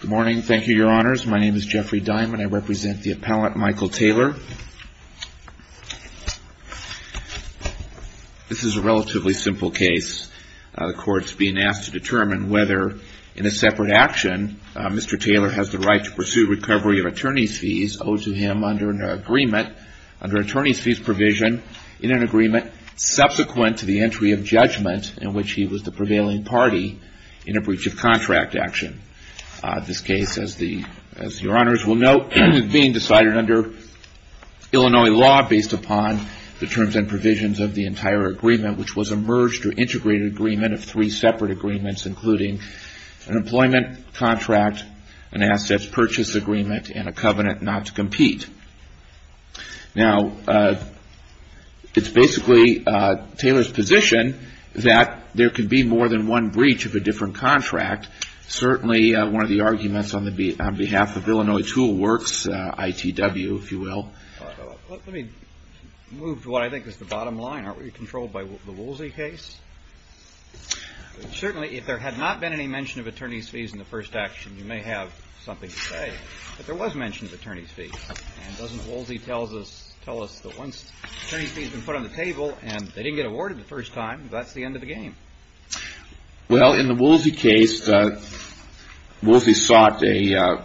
Good morning. Thank you, your honors. My name is Jeffrey Diamond. I represent the appellate Michael Taylor. This is a relatively simple case. The court's being asked to determine whether, in a separate action, Mr. Taylor has the right to pursue recovery of attorney's fees owed to him under an agreement, under attorney's fees provision, in an agreement subsequent to the entry of judgment in which he was the prevailing party in a breach of contract action. This case, as your honors will note, is being decided under Illinois law based upon the terms and provisions of the entire agreement, which was a merged or employment contract, an assets purchase agreement, and a covenant not to compete. Now, it's basically Taylor's position that there could be more than one breach of a different contract. Certainly one of the arguments on behalf of Illinois Tool Works, ITW, if you will. Let me move to what I think is the bottom line. Aren't we controlled by the Woolsey case? Certainly, if there had not been any mention of attorney's fees in the first action, you may have something to say. But there was mention of attorney's fees. And doesn't Woolsey tell us that once attorney's fees have been put on the table and they didn't get awarded the first time, that's the end of the game? Well, in the Woolsey case, Woolsey sought the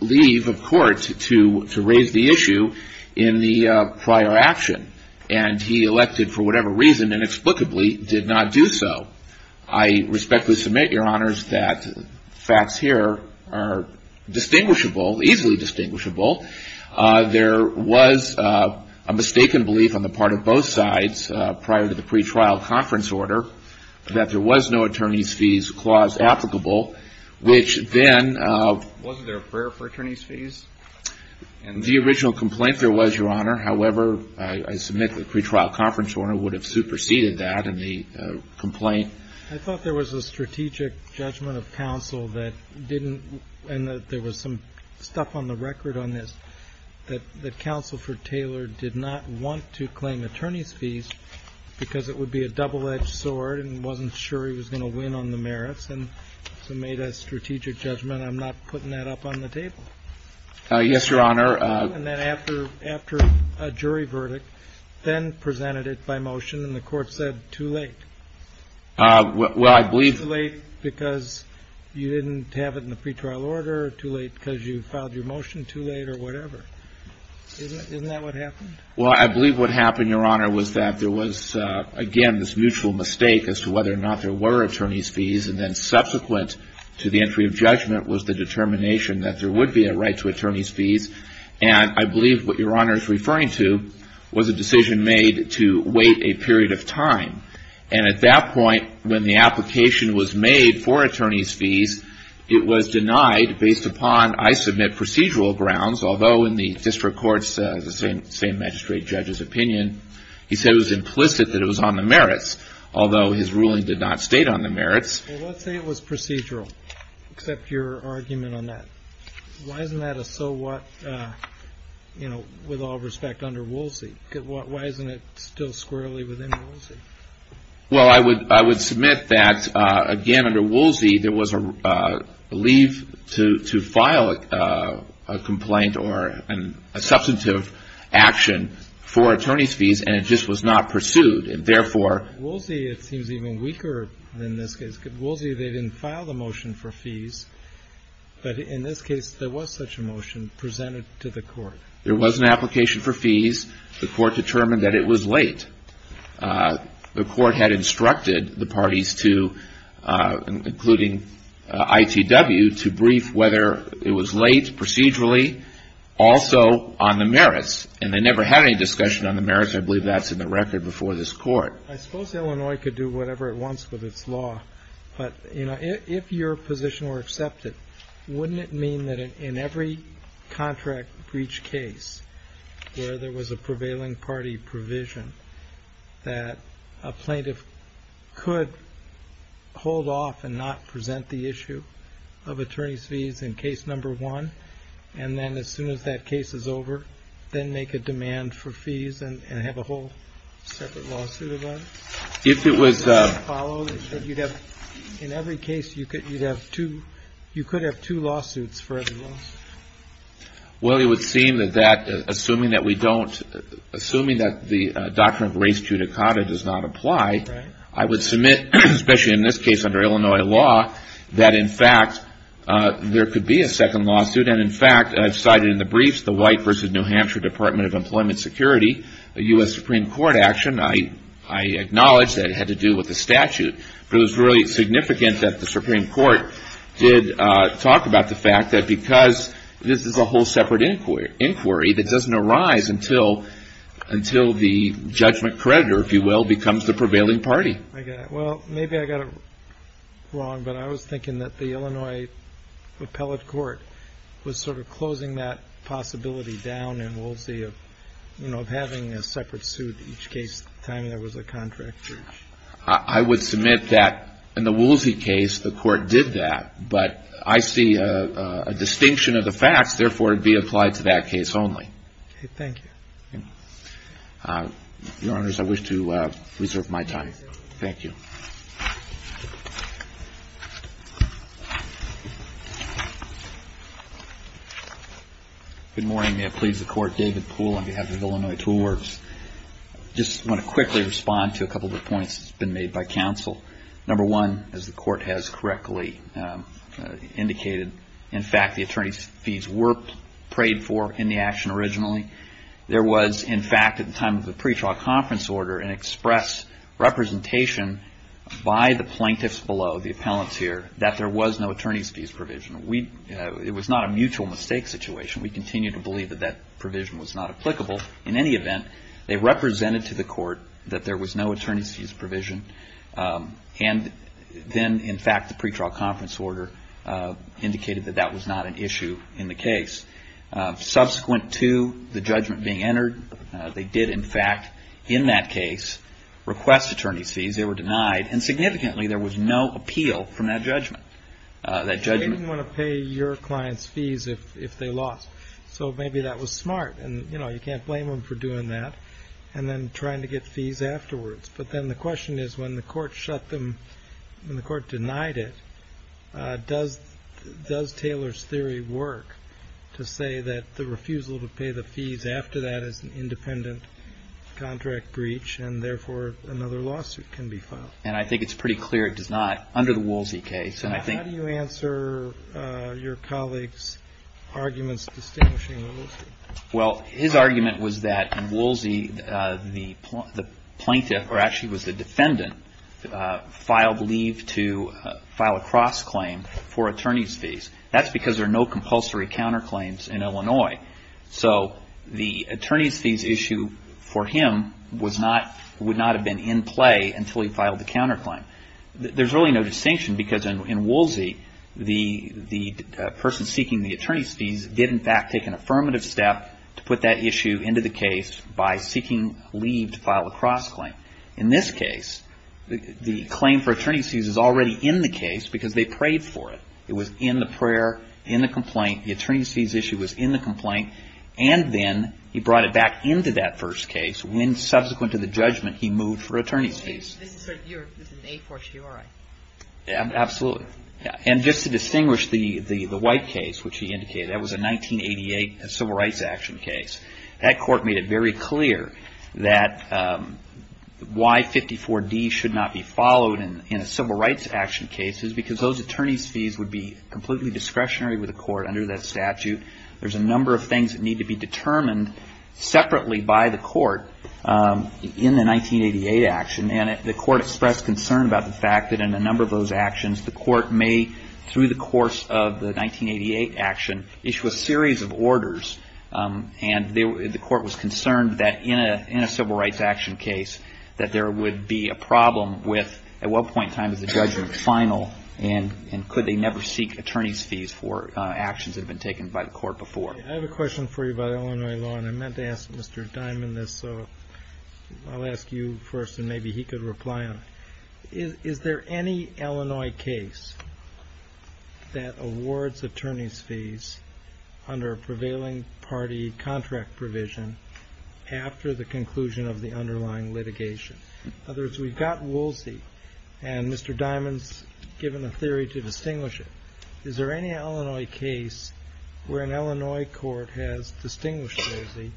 leave of court to raise the issue in the pre-trial conference order, which inexplicably did not do so. I respectfully submit, your honors, that the facts here are distinguishable, easily distinguishable. There was a mistaken belief on the part of both sides prior to the pre-trial conference order that there was no attorney's fees clause applicable, which then — Wasn't there a prayer for attorney's fees? The original complaint there was, your honor. However, I submit that the pre-trial conference order would have superseded that in the complaint. I thought there was a strategic judgment of counsel that didn't — and that there was some stuff on the record on this — that counsel for Taylor did not want to claim attorney's fees because it would be a double-edged sword and wasn't sure he was going to win on the merits and so made a strategic judgment. I'm not putting that up on the table. Yes, your honor. And then after a jury verdict, then presented it by motion and the court said, too late. Well, I believe — Too late because you didn't have it in the pre-trial order, too late because you filed your motion too late, or whatever. Isn't that what happened? Well, I believe what happened, your honor, was that there was, again, this mutual mistake as to whether or not there were attorney's fees, and then subsequent to the entry of And I believe what your honor is referring to was a decision made to wait a period of time. And at that point, when the application was made for attorney's fees, it was denied based upon, I submit, procedural grounds, although in the district court's same magistrate judge's opinion, he said it was implicit that it was on the merits, although his ruling did not state on the merits. Well, let's say it was procedural, except your argument on that. Why isn't that a so-what, you know, with all respect, under Woolsey? Why isn't it still squarely within Woolsey? Well, I would submit that, again, under Woolsey, there was a leave to file a complaint or a substantive action for attorney's fees, and it just was not pursued. And therefore — At Woolsey, it seems even weaker than this case. At Woolsey, they didn't file the motion for fees. But in this case, there was such a motion presented to the court. There was an application for fees. The court determined that it was late. The court had instructed the parties to, including ITW, to brief whether it was late procedurally, also on the merits. And they never had any discussion on the merits. I believe that's in the record before this court. I suppose Illinois could do whatever it wants with its law. But, you know, if your position were accepted, wouldn't it mean that in every contract breach case where there was a prevailing party provision, that a plaintiff could hold off and not present the issue of attorney's fees in case number one, and then as soon as that case is over, then make a demand for attorney's fees in case number one? If it was — In every case, you could have two lawsuits for every lawsuit. Well, it would seem that that, assuming that we don't — assuming that the doctrine of res judicata does not apply, I would submit, especially in this case under Illinois law, that in fact there could be a second lawsuit. And in fact, I've cited in the briefs the White v. New Hampshire Department of Employment Security, a U.S. Supreme Court action. I acknowledge that it had to do with the statute. But it was really significant that the Supreme Court did talk about the fact that because this is a whole separate inquiry that doesn't arise until the judgment creditor, if you will, becomes the prevailing party. Well, maybe I got it wrong, but I was thinking that the Illinois Appellate Court was sort of closing that possibility down in Woolsey of, you know, of having a separate suit each case the time there was a contract breach. I would submit that in the Woolsey case, the Court did that. But I see a distinction of the facts. Therefore, it would be applied to that case only. Okay. Thank you. Your Honors, I wish to reserve my time. Thank you. Good morning. May it please the Court, David Poole on behalf of Illinois Tool Works. I just want to quickly respond to a couple of the points that have been made by counsel. Number one, as the Court has correctly indicated, in fact, the attorney's fees were paid for in the action originally. There was, in fact, at the time of the pretrial conference order an express representation by the plaintiffs below, the appellants here, that there was no attorney's fees provision. We, it was not a mutual mistake situation. We continue to believe that that provision was not applicable. In any event, they represented to the Court that there was no attorney's fees provision. And then, in fact, the pretrial conference order indicated that that was not an issue in the case. Subsequent to the judgment being entered, they did, in fact, in that case, request attorney's fees. They were denied. And significantly, there was no appeal from that judgment. They didn't want to pay your client's fees if they lost. So maybe that was smart. And, you know, you can't blame them for doing that and then trying to get fees afterwards. But then the question is, when the Court shut them, when the Court denied it, does Taylor's theory work to say that the refusal to pay the fees after that is an independent contract breach and, therefore, another lawsuit can be filed? And I think it's pretty clear it does not under the Woolsey case. And I think How do you answer your colleague's arguments distinguishing Woolsey? Well, his argument was that Woolsey, the plaintiff, or actually it was the defendant, filed leave to file a cross-claim for attorney's fees. That's because there are no compulsory counterclaims in Illinois. So the attorney's fees issue for him was not, would not have been in play until he filed the counterclaim. There's really no distinction because in Woolsey, the person seeking the attorney's fees did, in fact, take an affirmative step to put that issue into the case by seeking leave to file a cross-claim. In this case, the claim for attorney's fees is already in the case because they prayed for it. It was in the prayer, in the complaint. The attorney's fees issue was in the complaint. And then he brought it back into that first case when, subsequent to the judgment, he moved for attorney's fees. So this is an a fortiori? Absolutely. And just to distinguish the White case, which he indicated, that was a 1988 civil rights action case. That court made it very clear that why 54D should not be followed in a civil rights action case is because those attorney's fees would be completely discretionary with the court under that statute. There's a number of things that need to be determined separately by the court in the 1988 action. And the court expressed concern about the number of those actions. The court may, through the course of the 1988 action, issue a series of orders. And the court was concerned that in a civil rights action case that there would be a problem with at what point in time is the judgment final and could they never seek attorney's fees for actions that have been taken by the court before. I have a question for you about Illinois law. And I meant to ask Mr. Diamond this, so I'll ask you first and maybe he could reply on it. Is there any Illinois case that awards attorney's fees under a prevailing party contract provision after the conclusion of the underlying litigation? In other words, we've got Woolsey and Mr. Diamond's given a theory to distinguish it. Is there any Illinois case where an Illinois court has distinguished Woolsey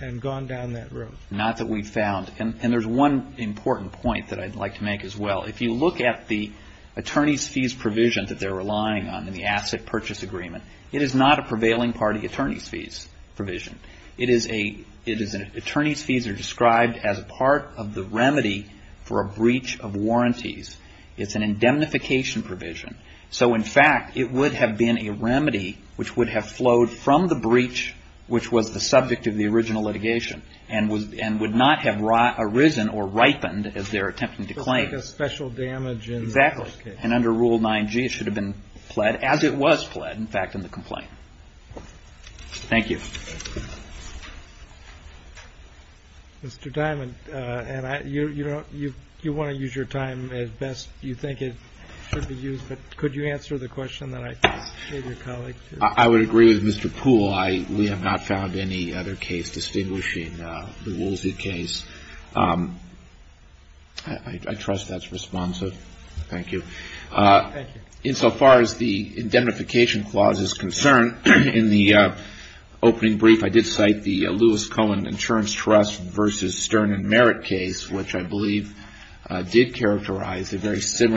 and gone down that road? Not that we've found. And there's one important point that I'd like to make as well. If you look at the attorney's fees provision that they're relying on in the asset purchase agreement, it is not a prevailing party attorney's fees provision. It is an attorney's fees are described as part of the remedy for a breach of warranties. It's an indemnification provision. So in fact, it would have been a remedy which would have flowed from the breach which was the subject of the original litigation and would not have arisen or ripened as they're attempting to claim. So like a special damage in the first case. Exactly. And under Rule 9G, it should have been pled, as it was pled, in fact, in the complaint. Thank you. Mr. Diamond, you want to use your time as best you think it should be used, but could you answer the question that I gave your colleague? I would agree with Mr. Poole. We have not found any other case distinguishing the Woolsey case. I trust that's responsive. Thank you. Thank you. Insofar as the indemnification clause is concerned, in the opening brief, I did cite the Lewis Cohen Insurance Trust versus Stern and Merritt case, which I believe did characterize a very consistent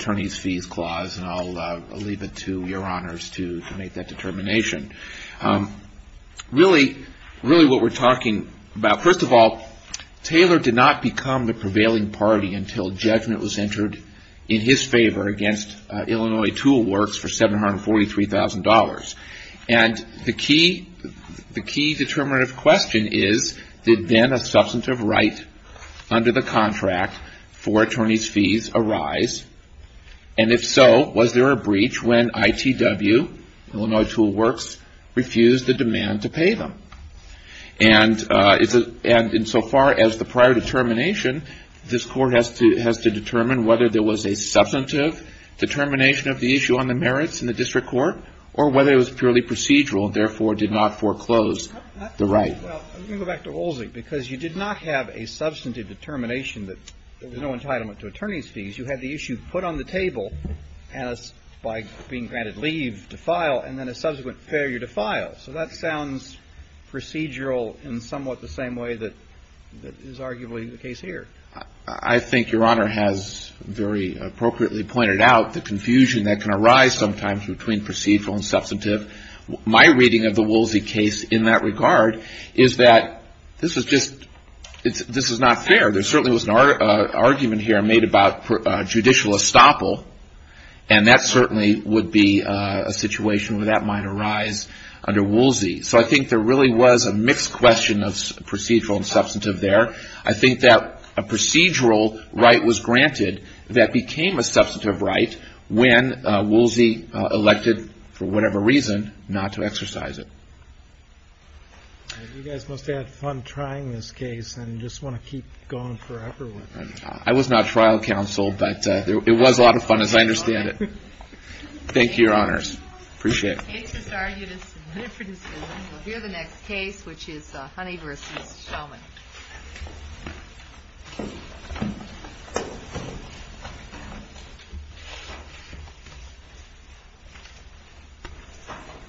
attorneys' fees clause, and I'll leave it to your honors to make that determination. Really what we're talking about, first of all, Taylor did not become the prevailing party until judgment was entered in his favor against Illinois Tool Works for $743,000. And the key determinative question is, did then a substantive right under the contract for attorneys' fees arise? And if so, was there a breach when ITW, Illinois Tool Works, refused the demand to pay them? And insofar as the prior determination, this court has to determine whether there was a substantive determination of the issue on the merits in the district court, or whether it was purely procedural and therefore did not foreclose the right. Well, let me go back to Woolsey, because you did not have a substantive determination that there was no entitlement to attorneys' fees. You had the issue put on the table as by being granted leave to file, and then a subsequent failure to file. So that sounds procedural in somewhat the same way that is arguably the case here. I think Your Honor has very appropriately pointed out the confusion that can arise sometimes between procedural and substantive. My reading of the Woolsey case in that regard is that this is not fair. There certainly was an argument here made about judicial estoppel, and that certainly would be a situation where that might arise under Woolsey. So I think there really was a mixed question of procedural and substantive there. I think that a procedural right was granted that became a substantive right when Woolsey elected, for whatever reason, not to exercise it. You guys must have had fun trying this case, and just want to keep going forever with it. I was not trial counsel, but it was a lot of fun as I understand it. Thank you, Your Honors. Appreciate it. The case is argued as submitted for decision. We'll hear the next case, which is Honey v. Shellman.